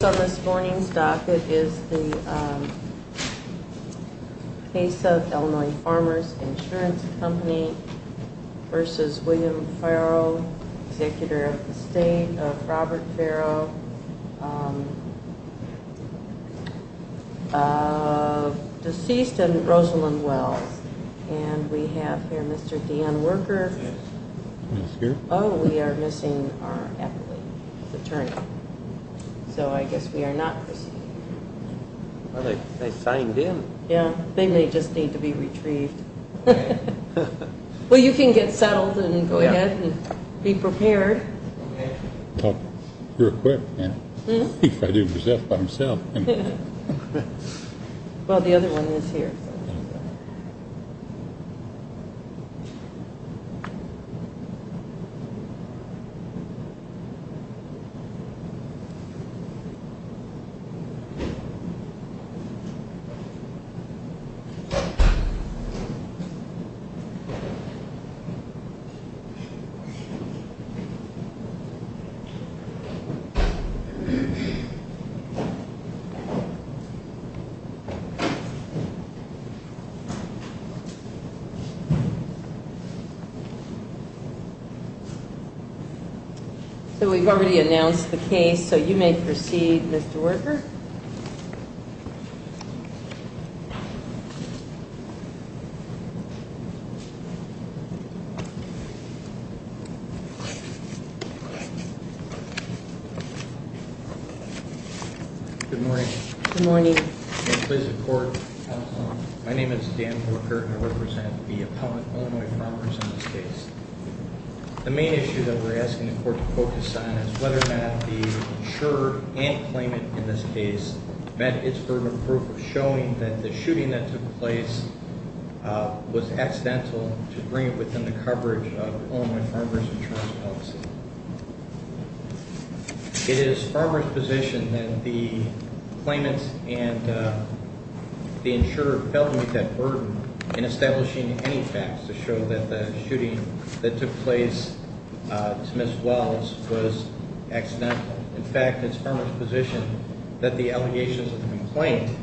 The case on this morning's docket is the case of Illinois Farmers Insurance Company v. William Farrow, executor of the state of Robert Farrow, deceased in Rosalynn Wells. And we have here Mr. Dan Worker. Oh, we are missing our attorney. So I guess we are not receiving him. Well, they signed in. Yeah, they may just need to be retrieved. Well, you can get settled and go ahead and be prepared. Okay. Real quick, if I do this by myself. Well, the other one is here. So we've already announced the case, so you may proceed, Mr. Worker. Good morning. Good morning. Please report. My name is Dan Worker, and I represent the opponent, Illinois Farmers, in this case. The main issue that we're asking the court to focus on is whether or not the insurer and claimant in this case met its burden of proof of showing that the shooting that took place was accidental to bring it within the coverage of Illinois Farmers Insurance Policy. It is Farmers' position that the claimant and the insurer failed to meet that burden in establishing any facts to show that the shooting that took place to Ms. Wells was accidental. In fact, it's Farmers' position that the allegations of the complaint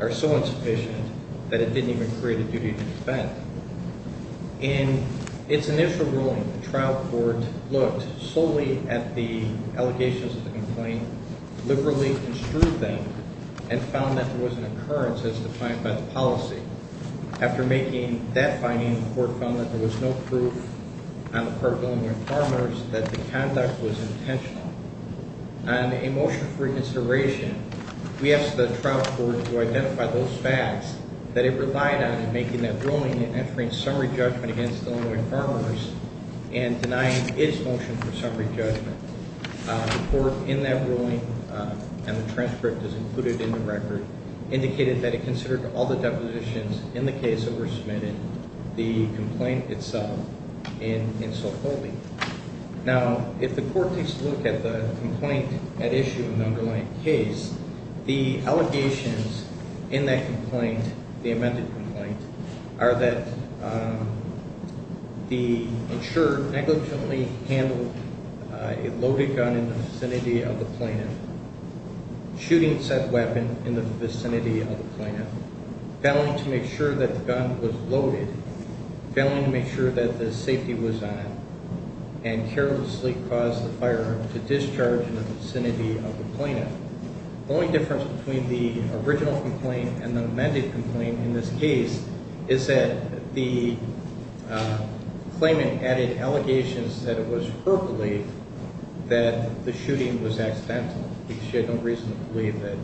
are so insufficient that it didn't even create a duty to defend. In its initial ruling, the trial court looked solely at the allegations of the complaint, liberally construed them, and found that there was an occurrence as defined by the policy. After making that finding, the court found that there was no proof on the part of Illinois Farmers that the conduct was intentional. On a motion for reconsideration, we asked the trial court to identify those facts that it relied on in making that ruling and entering summary judgment against Illinois Farmers and denying its motion for summary judgment. The court, in that ruling, and the transcript is included in the record, indicated that it considered all the depositions in the case that were submitted, the complaint itself, in insulphobic. Now, if the court takes a look at the complaint at issue in the underlying case, the allegations in that complaint, the amended complaint, are that the insurer negligently handled a loaded gun in the vicinity of the plaintiff, shooting said weapon in the vicinity of the plaintiff, failing to make sure that the gun was loaded, failing to make sure that the safety was on it, and carelessly caused the firearm to discharge in the vicinity of the plaintiff. The only difference between the original complaint and the amended complaint in this case is that the claimant added allegations that it was her belief that the shooting was accidental because she had no reason to believe that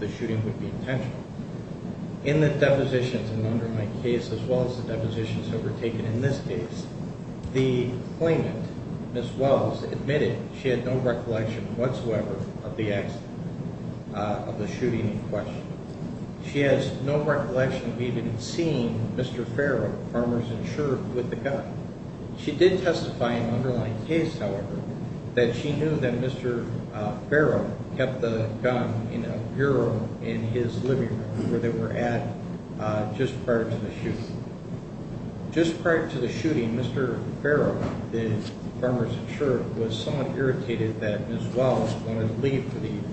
the shooting would be intentional. In the depositions in the underlying case, as well as the depositions overtaken in this case, the claimant, Ms. Wells, admitted she had no recollection whatsoever of the accident, of the shooting in question. She has no recollection of even seeing Mr. Farrow, the farmer's insurer, with the gun. She did testify in the underlying case, however, that she knew that Mr. Farrow kept the gun in a bureau in his living room where they were at just prior to the shooting. Just prior to the shooting, Mr. Farrow, the farmer's insurer, was somewhat irritated that Ms. Wells wanted to leave for the evening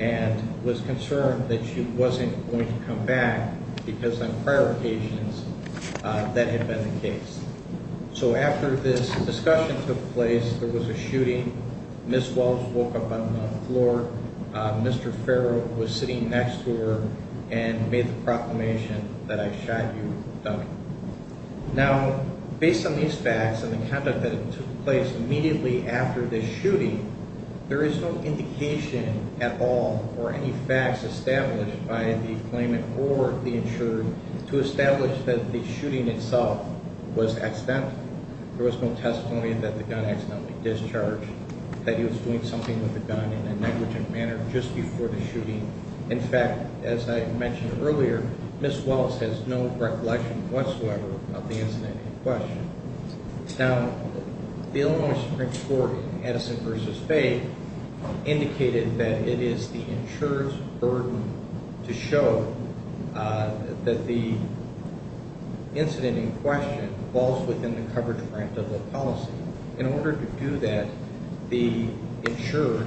and was concerned that she wasn't going to come back because on prior occasions that had been the case. So after this discussion took place, there was a shooting. Ms. Wells woke up on the floor. Mr. Farrow was sitting next to her and made the proclamation that I shot you, dummy. Now, based on these facts and the conduct that took place immediately after the shooting, there is no indication at all or any facts established by the claimant or the insurer to establish that the shooting itself was accidental. There was no testimony that the gun accidentally discharged, that he was doing something with the gun in a negligent manner just before the shooting. In fact, as I mentioned earlier, Ms. Wells has no recollection whatsoever of the incident in question. In order to do that, the insurer,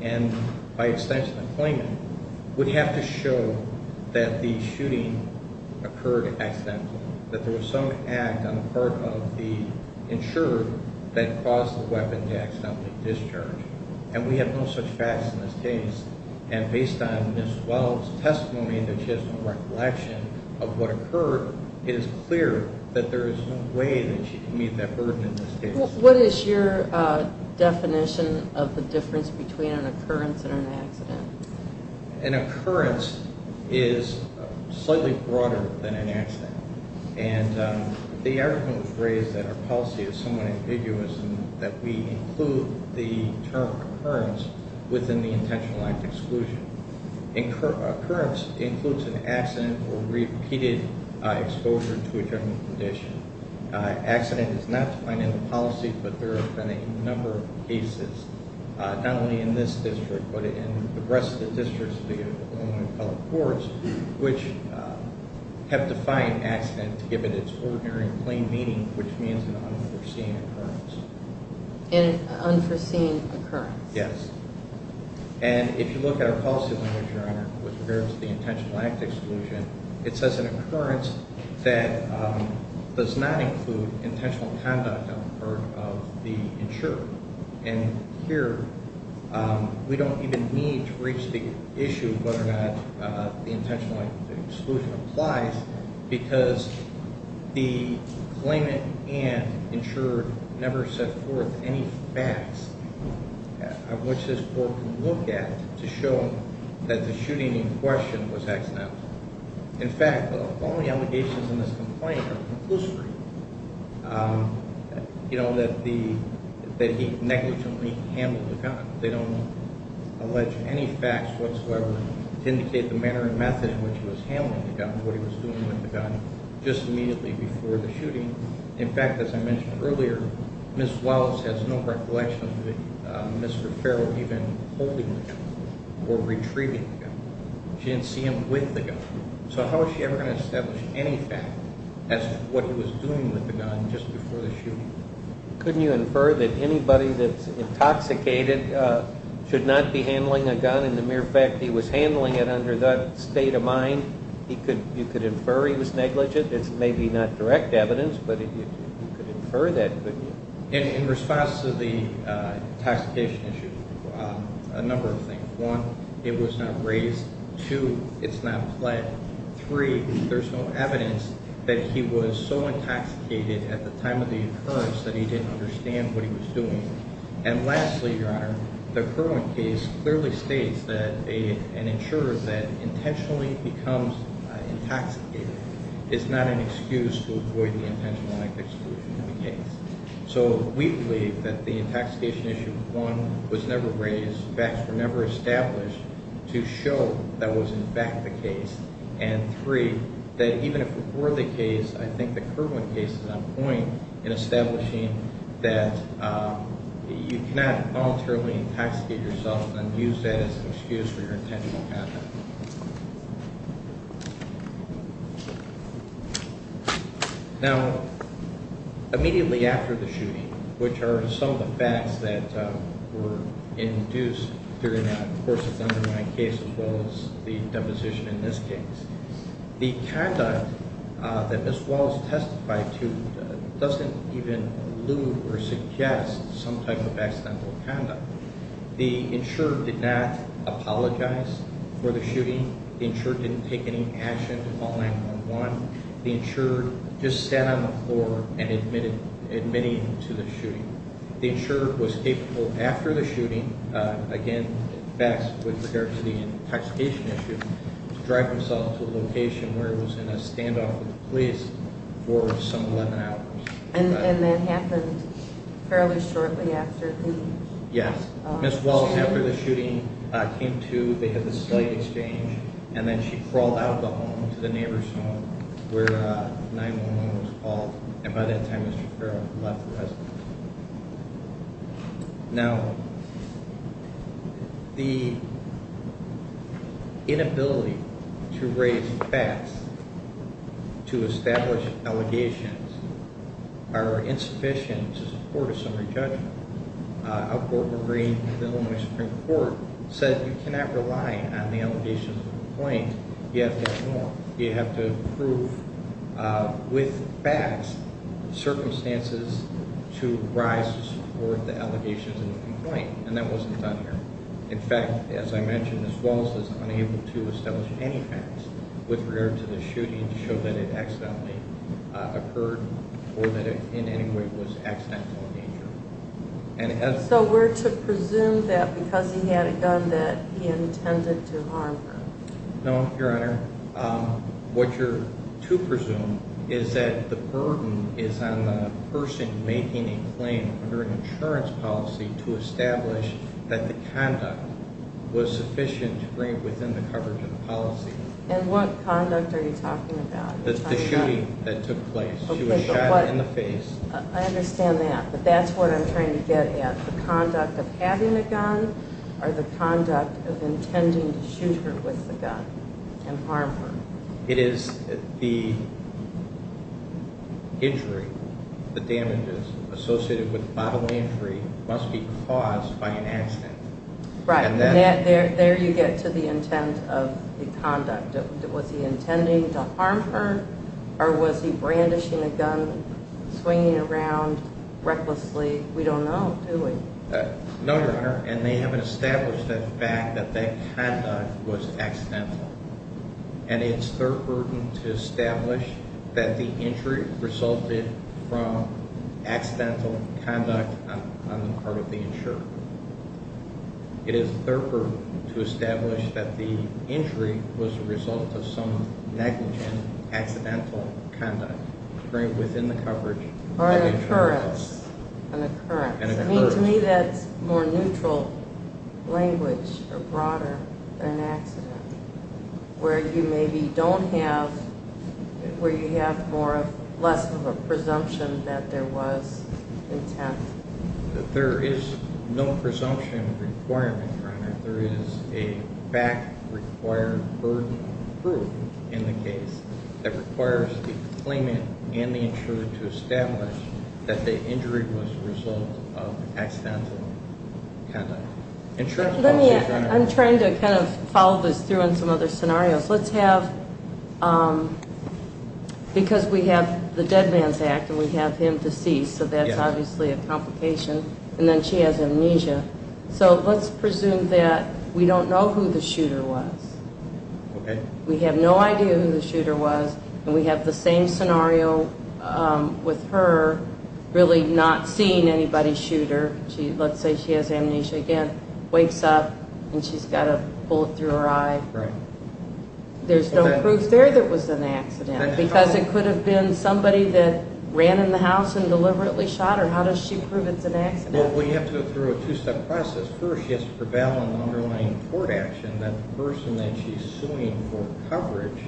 and by extension the claimant, would have to show that the shooting occurred accidentally, that there was some act on the part of the insurer that caused the weapon to accidentally discharge. And we have no such facts in this case. And based on Ms. Wells' testimony that she has no recollection of what occurred, it is clear that there is no way that she can meet that burden in this case. What is your definition of the difference between an occurrence and an accident? An occurrence is slightly broader than an accident. And the argument was raised that our policy is somewhat ambiguous and that we include the term occurrence within the Intentional Act Exclusion. Occurrence includes an accident or repeated exposure to a general condition. Accident is not defined in the policy, but there have been a number of cases, not only in this district, but in the rest of the districts, which have defined accident to give it its ordinary and plain meaning, which means an unforeseen occurrence. An unforeseen occurrence. Yes. And if you look at our policy language, Your Honor, with regards to the Intentional Act Exclusion, it says an occurrence that does not include intentional conduct on the part of the insurer. And here, we don't even need to reach the issue of whether or not the Intentional Act Exclusion applies because the claimant and insurer never set forth any facts on which this court can look at to show that the shooting in question was accidental. In fact, all the allegations in this complaint are conclusive. You know, that he negligently handled the gun. They don't allege any facts whatsoever to indicate the manner and method in which he was handling the gun, what he was doing with the gun, just immediately before the shooting. In fact, as I mentioned earlier, Ms. Wells has no recollection of Mr. Farrell even holding the gun or retrieving the gun. She didn't see him with the gun. So how is she ever going to establish any fact as to what he was doing with the gun just before the shooting? Couldn't you infer that anybody that's intoxicated should not be handling a gun in the mere fact he was handling it under that state of mind? You could infer he was negligent. It's maybe not direct evidence, but you could infer that, couldn't you? In response to the intoxication issue, a number of things. One, it was not raised. Two, it's not pled. Three, there's no evidence that he was so intoxicated at the time of the occurrence that he didn't understand what he was doing. And lastly, Your Honor, the Kirwan case clearly states that an insurer that intentionally becomes intoxicated is not an excuse to avoid the intentional neglect exclusion of the case. So we believe that the intoxication issue, one, was never raised. Facts were never established to show that was in fact the case. And three, that even if it were the case, I think the Kirwan case is on point in establishing that you cannot voluntarily intoxicate yourself and use that as an excuse for your intentional neglect. Now, immediately after the shooting, which are some of the facts that were induced during the course of the underlying case as well as the deposition in this case, the conduct that Ms. Wallace testified to doesn't even allude or suggest some type of accidental conduct. The insurer did not apologize for the shooting. The insurer didn't take any action to call 911. The insurer just sat on the floor and admitted to the shooting. The insurer was capable after the shooting, again, facts with regard to the intoxication issue, to drive himself to a location where he was in a standoff with the police for some 11 hours. And that happened fairly shortly after the shooting? Yes. Ms. Wallace, after the shooting, came to, they had a slight exchange, and then she crawled out of the home to the neighbor's home where 911 was called. And by that time, Mr. Farrell had left the residence. Now, the inability to raise facts to establish allegations are insufficient to support a summary judgment. A court memory, the Illinois Supreme Court, said you cannot rely on the allegations of a complaint. You have to ignore, you have to prove with facts, circumstances to rise to support the allegations of a complaint. And that wasn't done here. In fact, as I mentioned, Ms. Wallace was unable to establish any facts with regard to the shooting to show that it accidentally occurred or that it in any way was accidental in nature. So we're to presume that because he had a gun that he intended to harm her? No, Your Honor. What you're to presume is that the burden is on the person making a claim under an insurance policy to establish that the conduct was sufficient to bring it within the coverage of the policy. And what conduct are you talking about? The shooting that took place. She was shot in the face. I understand that, but that's what I'm trying to get at. The conduct of having a gun or the conduct of intending to shoot her with the gun and harm her. It is the injury, the damages associated with bodily injury must be caused by an accident. There you get to the intent of the conduct. Was he intending to harm her? Or was he brandishing a gun, swinging it around recklessly? We don't know, do we? No, Your Honor, and they haven't established the fact that that conduct was accidental. And it's their burden to establish that the injury resulted from accidental conduct on the part of the insurer. It is their burden to establish that the injury was the result of some negligent accidental conduct. Or an occurrence. To me that's more neutral language or broader than an accident, where you maybe don't have, where you have less of a presumption that there was intent. There is no presumption requirement, Your Honor. There is a fact-required burden of proof in the case that requires the claimant and the insurer to establish that the injury was the result of accidental conduct. I'm trying to kind of follow this through on some other scenarios. Let's have, because we have the dead man's act and we have him deceased, so that's obviously a complication, and then she has amnesia. So let's presume that we don't know who the shooter was. We have no idea who the shooter was, and we have the same scenario with her really not seeing anybody shoot her. Let's say she has amnesia again, wakes up, and she's got a bullet through her eye. There's no proof there that it was an accident, because it could have been somebody that ran in the house and deliberately shot her. How does she prove it's an accident? Well, we have to go through a two-step process. First, she has to prevail on the underlying court action that the person that she's suing for coverage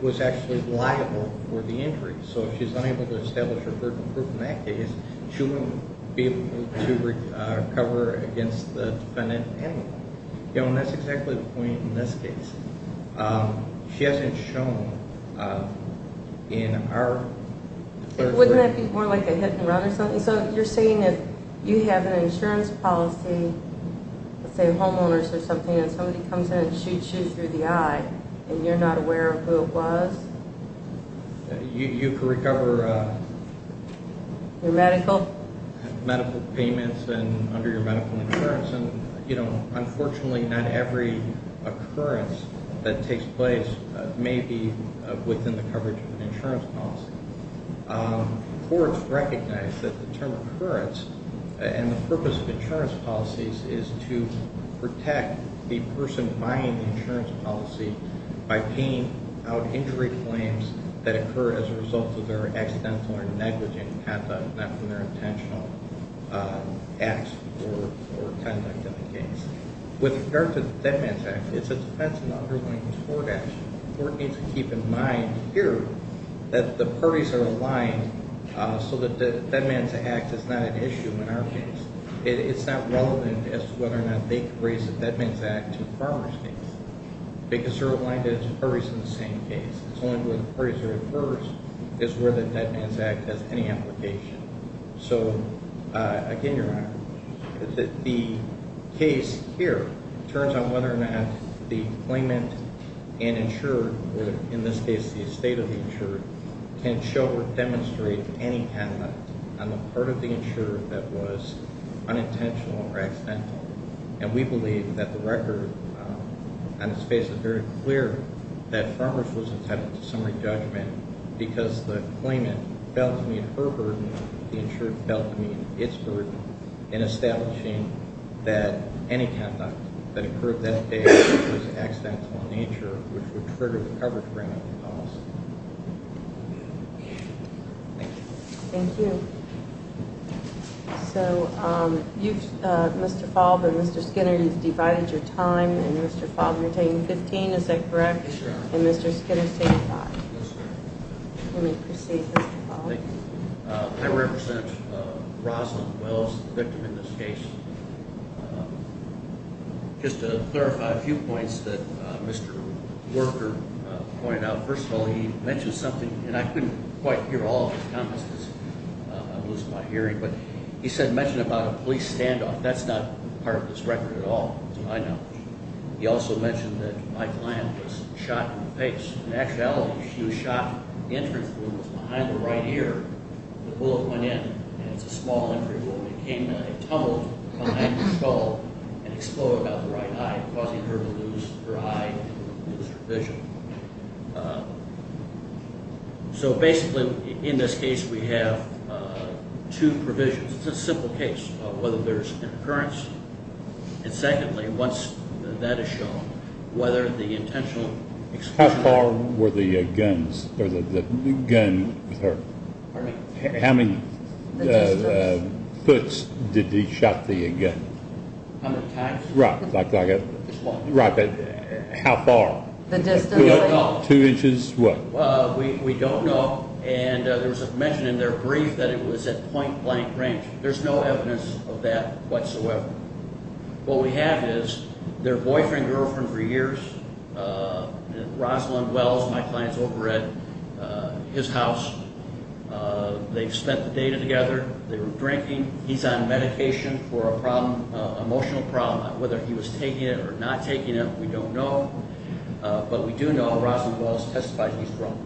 was actually liable for the injury. So if she's unable to establish her third proof in that case, she won't be able to recover against the defendant handling it. And that's exactly the point in this case. She hasn't shown in our... Wouldn't that be more like a hit and run or something? So you're saying if you have an insurance policy, let's say homeowners or something, and somebody comes in and shoots you through the eye, and you're not aware of who it was? You could recover... Your medical? Medical payments and under your medical insurance. And, you know, unfortunately, not every occurrence that takes place may be within the coverage of an insurance policy. Courts recognize that the term occurrence and the purpose of insurance policies is to protect the person buying the insurance policy by paying out injury claims that occur as a result of their accidental or negligent conduct, not from their intentional acts or conduct in the case. With regard to the Dead Man's Act, it's a defense in the underlying court action. The court needs to keep in mind here that the parties are aligned so that the Dead Man's Act is not an issue in our case. It's not relevant as to whether or not they could raise the Dead Man's Act to the farmer's case because they're aligned as parties in the same case. It's only where the parties are at first is where the Dead Man's Act has any application. So, again, Your Honor, the case here turns on whether or not the claimant and insurer, or in this case the estate of the insurer, can show or demonstrate any kind of act on the part of the insurer that was unintentional or accidental. And we believe that the record on its face is very clear that farmers was entitled to summary judgment because the claimant felt to meet her burden, the insurer felt to meet its burden, in establishing that any conduct that occurred that day was accidental in nature, which would trigger the coverage grant policy. Thank you. Thank you. So, Mr. Faulb and Mr. Skinner, you've divided your time, and Mr. Faulb, you're taking 15, is that correct? Yes, Your Honor. And Mr. Skinner's taking five. Yes, Your Honor. Let me proceed, Mr. Faulb. Thank you. I represent Roslyn Wells, the victim in this case. Just to clarify a few points that Mr. Worker pointed out. First of all, he mentioned something, and I couldn't quite hear all of his comments because I'm losing my hearing, but he mentioned about a police standoff. That's not part of this record at all, as far as I know. He also mentioned that my client was shot in the face. In actuality, she was shot in the entrance room. It was behind the right ear. The bullet went in, and it's a small entry wound. It came in a tunnel behind the skull and exploded out the right eye, causing her to lose her eye and lose her vision. So, basically, in this case, we have two provisions. It's a simple case of whether there's an occurrence. And secondly, once that is shown, whether the intentional explosion. How far were the guns or the gun hurt? Pardon me? How many foots did he shot the gun? A hundred times? Right. Just one. Right, but how far? The distance. Two inches, what? We don't know, and there was a mention in their brief that it was at point-blank range. There's no evidence of that whatsoever. What we have is their boyfriend and girlfriend for years. Rosalind Wells, my client's over at his house. They've spent the day together. They were drinking. He's on medication for a problem, emotional problem. Whether he was taking it or not taking it, we don't know. But we do know Rosalind Wells testified he's drunk.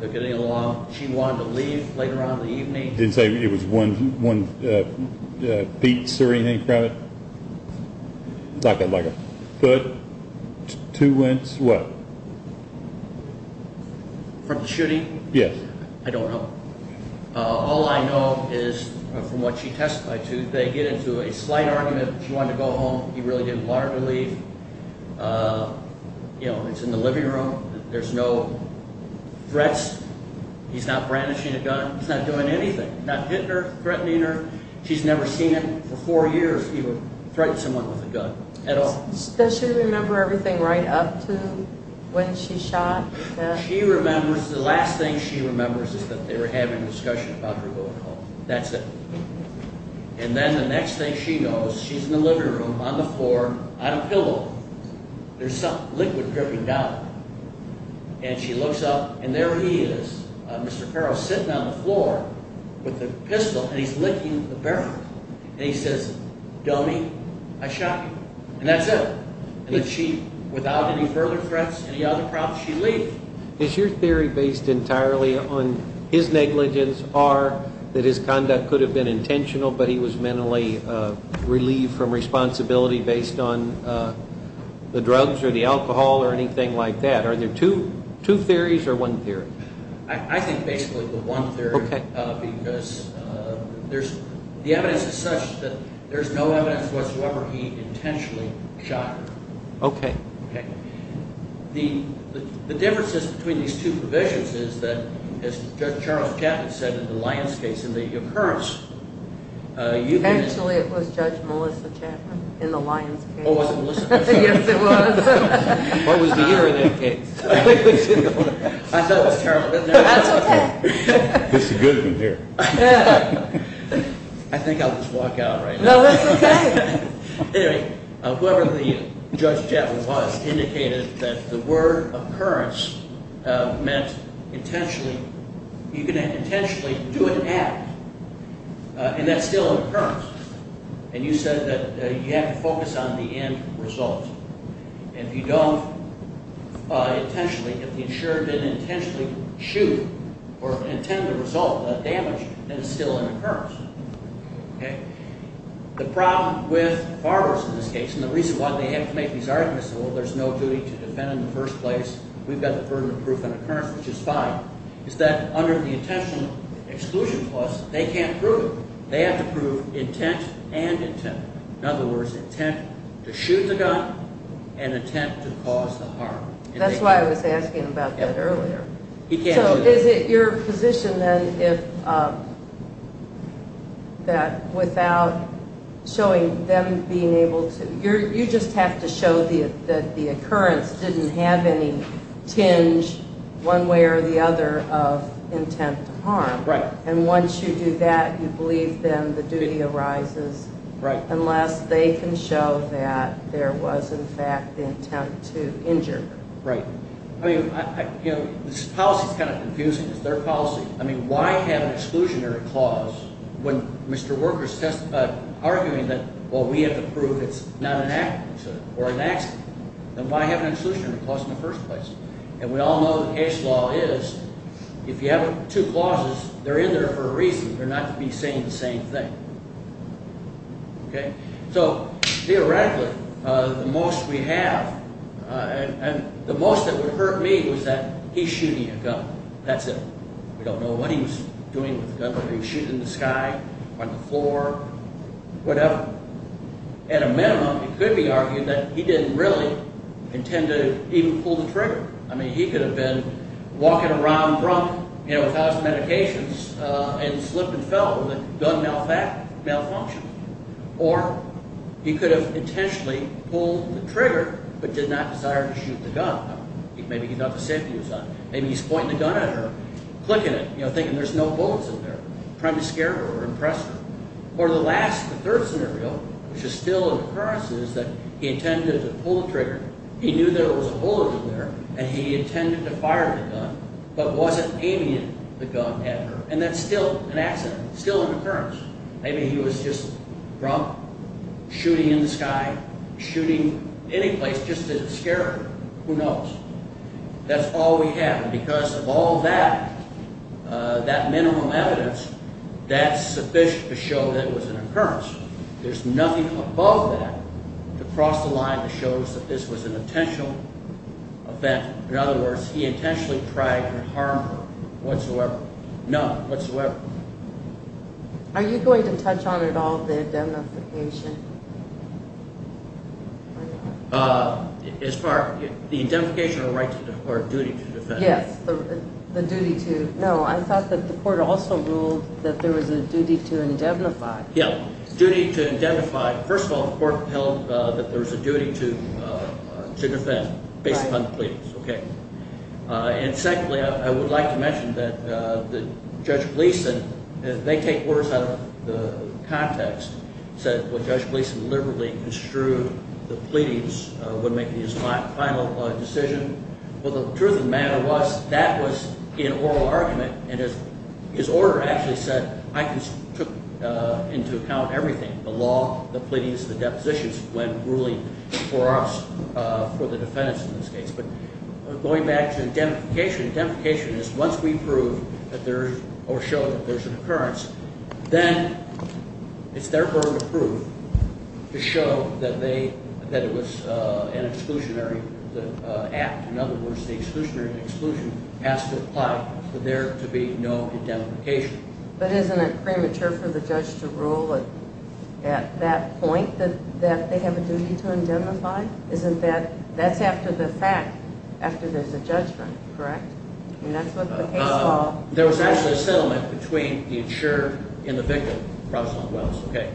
They're getting along. She wanted to leave later on in the evening. Didn't say it was one beats or anything from it? Not like a foot, two inches, what? From the shooting? Yes. I don't know. All I know is from what she testified to, they get into a slight argument. She wanted to go home. He really didn't want her to leave. You know, it's in the living room. There's no threats. He's not brandishing a gun. He's not doing anything. Not hitting her, threatening her. She's never seen him for four years even threaten someone with a gun at all. Does she remember everything right up to when she shot? She remembers. The last thing she remembers is that they were having a discussion about her alcohol. That's it. And then the next thing she knows, she's in the living room on the floor on a pillow. There's some liquid dripping down. And she looks up, and there he is. Mr. Perrow sitting on the floor with a pistol, and he's licking the barrel. And he says, dummy, I shot you. And that's it. And without any further threats, any other props, she leaves. Is your theory based entirely on his negligence or that his conduct could have been intentional but he was mentally relieved from responsibility based on the drugs or the alcohol or anything like that? Are there two theories or one theory? I think basically the one theory. Okay. Because the evidence is such that there's no evidence whatsoever he intentionally shot her. Okay. Okay. The difference is between these two provisions is that, as Judge Charles Chapman said in the Lyons case, in the occurrence, you can – Actually, it was Judge Melissa Chapman in the Lyons case. Oh, was it Melissa? Yes, it was. What was the year in that case? I thought it was terrible, didn't I? That's okay. This is a good one here. I think I'll just walk out right now. No, that's okay. Anyway, whoever the Judge Chapman was indicated that the word occurrence meant intentionally – you can intentionally do an act, and that's still an occurrence. And you said that you have to focus on the end result. And if you don't intentionally, if the insurer didn't intentionally shoot or intend the result, the damage, then it's still an occurrence. Okay. The problem with borrowers in this case, and the reason why they have to make these arguments, well, there's no duty to defend in the first place, we've got the burden of proof on occurrence, which is fine, is that under the intentional exclusion clause, they can't prove it. They have to prove intent and intent. In other words, intent to shoot the gun and intent to cause the harm. That's why I was asking about that earlier. So is it your position, then, that without showing them being able to – you just have to show that the occurrence didn't have any tinge, one way or the other, of intent to harm. Right. And once you do that, you believe, then, the duty arises. Right. Unless they can show that there was, in fact, the intent to injure. Right. I mean, you know, this policy's kind of confusing. It's their policy. I mean, why have an exclusionary clause when Mr. Worker's arguing that, well, we have to prove it's not an accident or an accident? Then why have an exclusionary clause in the first place? And we all know the case law is, if you have two clauses, they're in there for a reason. They're not to be saying the same thing. Okay. So theoretically, the most we have – and the most that would hurt me was that he's shooting a gun. That's it. We don't know what he was doing with the gun, whether he was shooting in the sky, on the floor, whatever. At a minimum, it could be argued that he didn't really intend to even pull the trigger. I mean, he could have been walking around drunk, you know, without his medications, and slipped and fell. The gun malfunctioned. Or he could have intentionally pulled the trigger but did not desire to shoot the gun. Maybe he thought the safety was on. Maybe he's pointing the gun at her, clicking it, you know, thinking there's no bullets in there, trying to scare her or impress her. Or the last, the third scenario, which is still an occurrence, is that he intended to pull the trigger. He knew there was a bullet in there, and he intended to fire the gun but wasn't aiming it. The gun had her. And that's still an accident, still an occurrence. Maybe he was just drunk, shooting in the sky, shooting any place just to scare her. Who knows? That's all we have. Because of all that, that minimal evidence, that's sufficient to show that it was an occurrence. There's nothing above that to cross the line that shows that this was an intentional event. In other words, he intentionally tried to harm her whatsoever. None whatsoever. Are you going to touch on at all the identification? As far as the identification or duty to defend? Yes, the duty to. No, I thought that the court also ruled that there was a duty to indemnify. Yeah, duty to indemnify. First of all, the court held that there was a duty to defend based upon the plea. Right. Okay. And secondly, I would like to mention that Judge Gleason, they take orders out of the context. He said, well, Judge Gleason deliberately construed the pleadings when making his final decision. Well, the truth of the matter was that was an oral argument, and his order actually said, I took into account everything, the law, the pleadings, the depositions when ruling for us, for the defendants in this case. But going back to indemnification, indemnification is once we prove or show that there's an occurrence, then it's therefore approved to show that it was an exclusionary act. In other words, the exclusionary exclusion has to apply for there to be no indemnification. But isn't it premature for the judge to rule at that point that they have a duty to indemnify? Isn't that that's after the fact, after there's a judgment, correct? I mean, that's what the case law says. There was a settlement between the insured and the victim, Rosalynn Wells, okay?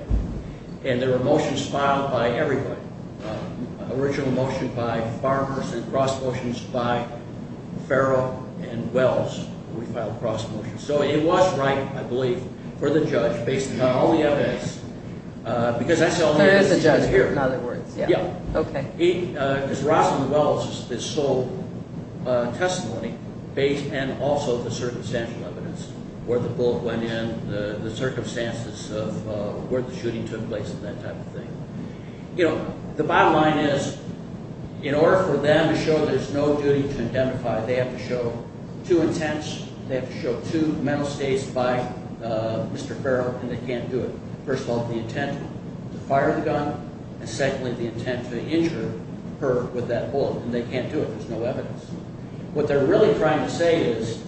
And there were motions filed by everybody, original motion by Farmers and cross motions by Farrell and Wells. We filed a cross motion. So it was right, I believe, for the judge, based upon all the evidence, because that's the only evidence you're going to hear. In other words, yeah, okay. Because Rosalynn Wells is sole testimony and also the circumstantial evidence, where the bullet went in, the circumstances of where the shooting took place and that type of thing. You know, the bottom line is, in order for them to show there's no duty to indemnify, they have to show two intents. They have to show two mental states by Mr. Farrell, and they can't do it. First of all, the intent to fire the gun, and secondly, the intent to injure her with that bullet. And they can't do it. There's no evidence. What they're really trying to say is,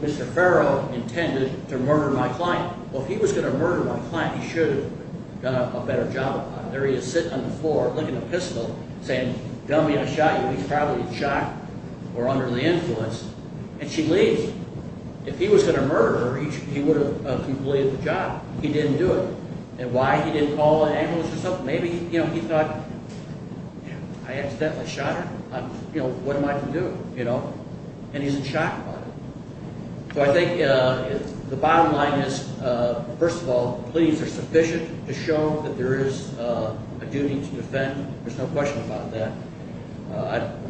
Mr. Farrell intended to murder my client. Well, if he was going to murder my client, he should have done a better job of it. There he is sitting on the floor, licking a pistol, saying, dummy, I shot you. He's probably shocked or under the influence. And she leaves. If he was going to murder her, he would have completed the job. He didn't do it. And why he didn't call an ambulance or something, maybe he thought, I accidentally shot her. What am I going to do? And he's in shock about it. So I think the bottom line is, first of all, the pleas are sufficient to show that there is a duty to defend. There's no question about that.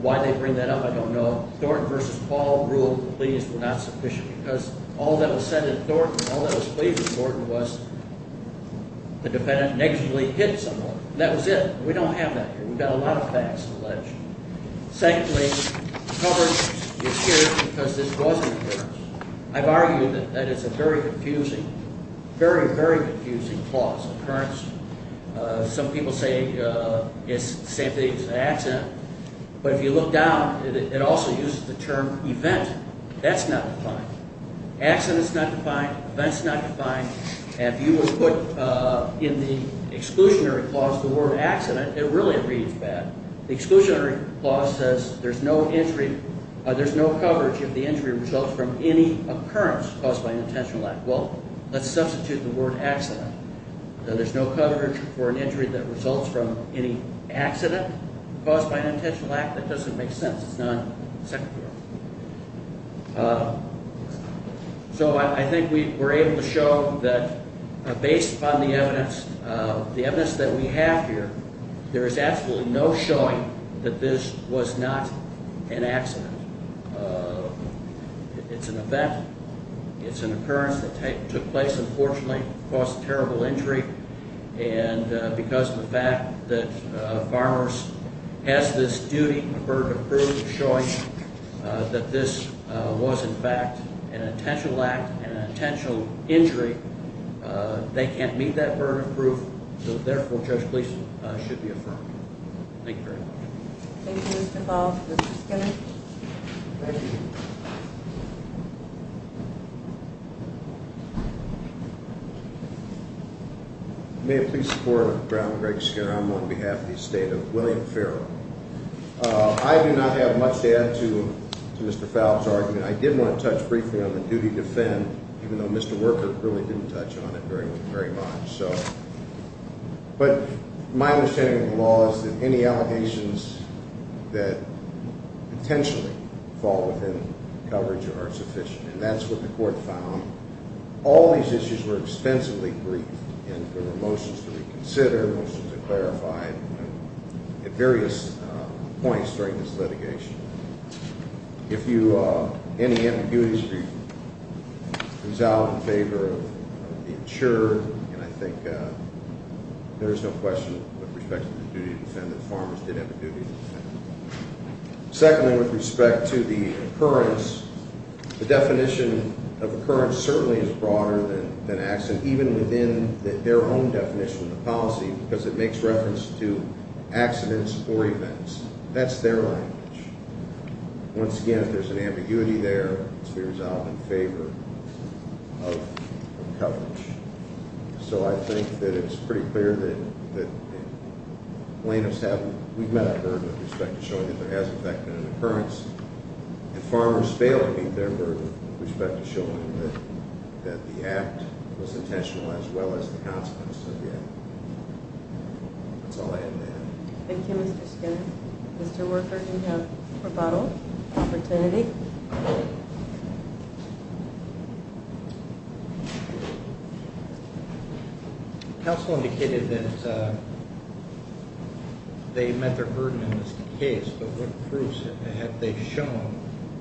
Why they bring that up, I don't know. Thornton v. Paul ruled the pleas were not sufficient because all that was said in Thornton, all that was played with in Thornton was the defendant negatively hit someone. That was it. We don't have that here. We've got a lot of facts to allege. Secondly, coverage is here because this was an occurrence. I've argued that that is a very confusing, very, very confusing clause, occurrence. Some people say it's an accident. But if you look down, it also uses the term event. That's not defined. Accident's not defined. Event's not defined. And if you will put in the exclusionary clause the word accident, it really reads bad. The exclusionary clause says there's no injury, there's no coverage if the injury results from any occurrence caused by an intentional act. Well, let's substitute the word accident. There's no coverage for an injury that results from any accident caused by an intentional act? That doesn't make sense. It's non-secular. So I think we're able to show that based upon the evidence, the evidence that we have here, there is absolutely no showing that this was not an accident. It's an event. It's an occurrence that took place, unfortunately, caused a terrible injury. And because of the fact that Farmers has this duty to prove, showing that this was, in fact, an intentional act, an intentional injury, they can't meet that burden of proof. So, therefore, Judge Gleason should be affirmed. Thank you very much. Thank you, Mr. Ball. Mr. Skinner. Thank you. May it please the Court, Brown, Greg Skinner. I'm on behalf of the estate of William Farrell. I do not have much to add to Mr. Favre's argument. I did want to touch briefly on the duty to defend, even though Mr. Worker really didn't touch on it very much. But my understanding of the law is that any allegations that potentially fall within coverage are sufficient. And that's what the Court found. All these issues were extensively briefed, and there were motions to reconsider, motions to clarify, at various points during this litigation. If any ambiguities were resolved in favor of the insurer, then I think there is no question with respect to the duty to defend that Farmers did have a duty to defend. Secondly, with respect to the occurrence, the definition of occurrence certainly is broader than accident, even within their own definition of the policy, because it makes reference to accidents or events. That's their language. Once again, if there's an ambiguity there, it's to be resolved in favor of coverage. So I think that it's pretty clear that plaintiffs have, we've met our burden with respect to showing that there has in fact been an occurrence. If Farmers fail to meet their burden with respect to showing that the act was intentional as well as the consequences of the act. That's all I have to add. Thank you, Mr. Skinner. Mr. Worker, you have rebuttal, opportunity. Counsel indicated that they met their burden in this case, but what proofs have they shown,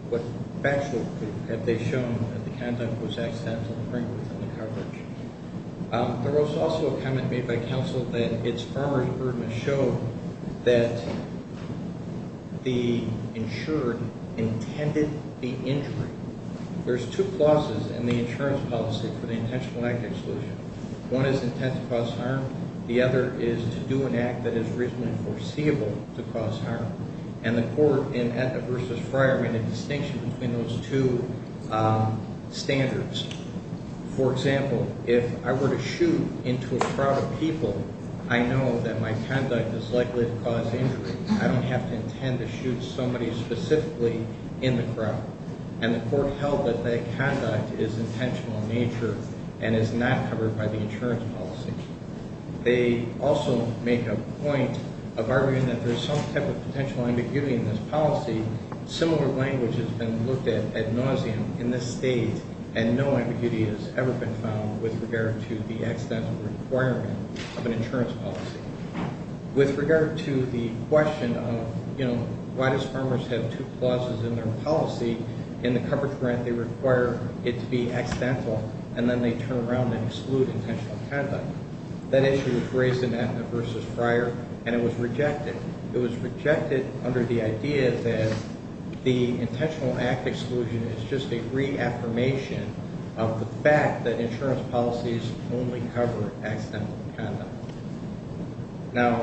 what factual proof have they shown that the conduct was accidental during the coverage? There was also a comment made by counsel that it's Farmers' burden to show that the insurer intended the injury. There's two clauses in the insurance policy for the intentional act exclusion. One is intent to cause harm. The other is to do an act that is reasonably foreseeable to cause harm. And the court in Etna v. Fryer made a distinction between those two standards. For example, if I were to shoot into a crowd of people, I know that my conduct is likely to cause injury. I don't have to intend to shoot somebody specifically in the crowd. And the court held that that conduct is intentional in nature and is not covered by the insurance policy. They also make a point of arguing that there's some type of potential ambiguity in this policy. Similar language has been looked at ad nauseum in this state, and no ambiguity has ever been found with regard to the accidental requirement of an insurance policy. With regard to the question of, you know, why does Farmers have two clauses in their policy? In the coverage grant, they require it to be accidental, and then they turn around and exclude intentional conduct. That issue was raised in Etna v. Fryer, and it was rejected. It was rejected under the idea that the intentional act exclusion is just a reaffirmation of the fact that insurance policies only cover accidental conduct. Now,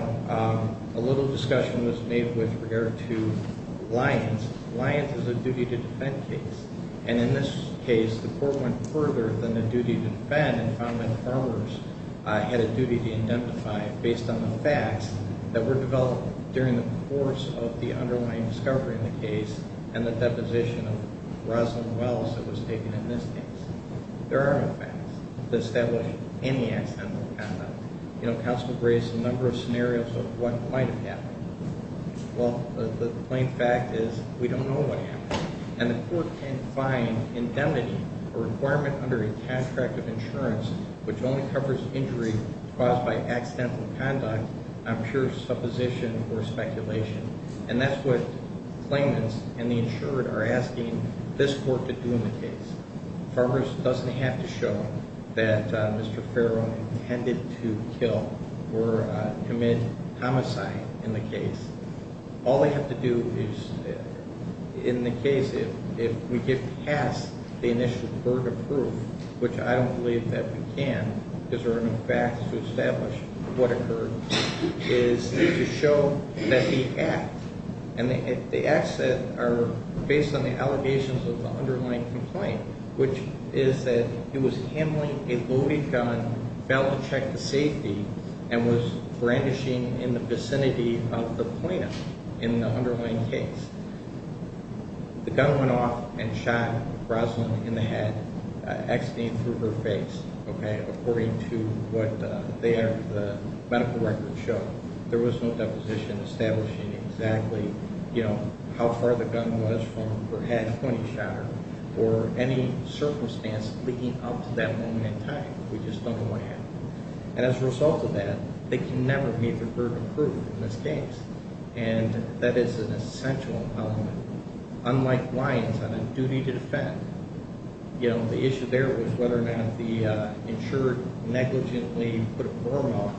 a little discussion was made with regard to Lyons. Lyons is a duty-to-defend case, and in this case, the court went further than the duty-to-defend and found that Farmers had a duty to indemnify based on the facts that were developed during the course of the underlying discovery in the case and the deposition of Rosalyn Wells that was taken in this case. There are no facts to establish any accidental conduct. You know, counsel raised a number of scenarios of what might have happened. Well, the plain fact is we don't know what happened. And the court can't find indemnity or requirement under a contract of insurance which only covers injury caused by accidental conduct on pure supposition or speculation. And that's what claimants and the insured are asking this court to do in the case. Farmers doesn't have to show that Mr. Farrow intended to kill or commit homicide in the case. All they have to do is, in the case, if we get past the initial burden of proof, which I don't believe that we can because there are no facts to establish what occurred, is to show that the act, and the acts that are based on the allegations of the underlying complaint, which is that he was handling a loaded gun, failed to check the safety, and was brandishing in the vicinity of the plaintiff in the underlying case. The gun went off and shot Rosalyn in the head, exiting through her face, okay, according to what the medical records show. There was no deposition establishing exactly how far the gun was from her head when he shot her, or any circumstance leading up to that moment in time. We just don't know what happened. And as a result of that, they can never meet the burden of proof in this case. And that is an essential element. Unlike Lyons, on a duty to defend, the issue there was whether or not the insured negligently put a form on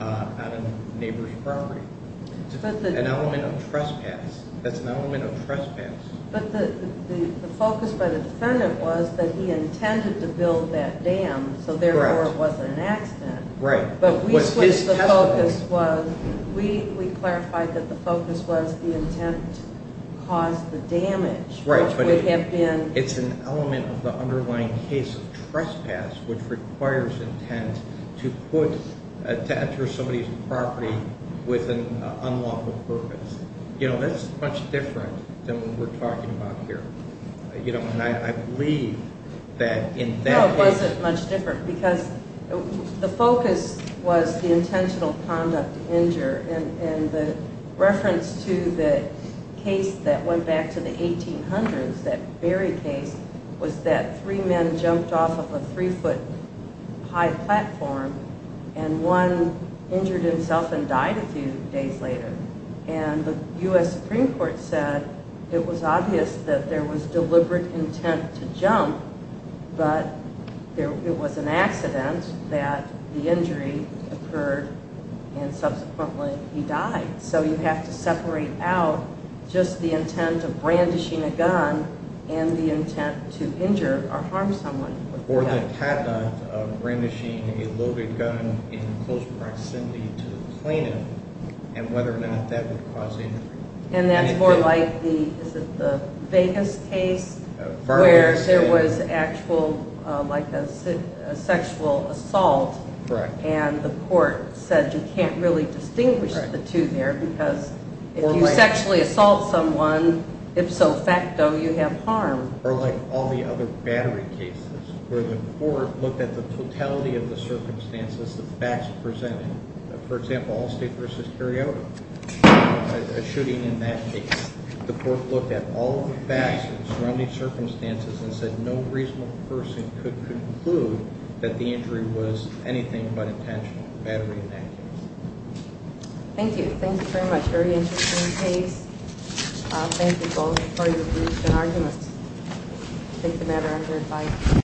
a neighbor's property. It's an element of trespass. That's an element of trespass. But the focus by the defendant was that he intended to build that dam, so therefore it wasn't an accident. Right. But we switched the focus. We clarified that the focus was the intent caused the damage. Right, but it's an element of the underlying case of trespass, which requires intent to put, to enter somebody's property with an unlawful purpose. You know, that's much different than what we're talking about here. You know, and I believe that in that case- The focus was the intentional conduct to injure. And the reference to the case that went back to the 1800s, that Berry case, was that three men jumped off of a three-foot-high platform, and one injured himself and died a few days later. And the U.S. Supreme Court said it was obvious that there was deliberate intent to jump, but it was an accident that the injury occurred and subsequently he died. So you have to separate out just the intent of brandishing a gun and the intent to injure or harm someone. Or the patent of brandishing a loaded gun in close proximity to the plaintiff and whether or not that would cause injury. And that's more like the, is it the Vegas case, where there was actual, like a sexual assault, and the court said you can't really distinguish the two there because if you sexually assault someone, ipso facto, you have harm. Or like all the other Battery cases, where the court looked at the totality of the circumstances, the facts presented. For example, Allstate v. Carioto, a shooting in that case. The court looked at all the facts and surrounding circumstances and said no reasonable person could conclude that the injury was anything but intentional. Battery in that case. Thank you. Thank you very much. Very interesting case. Thank you both for your briefs and arguments. Take the matter under advice.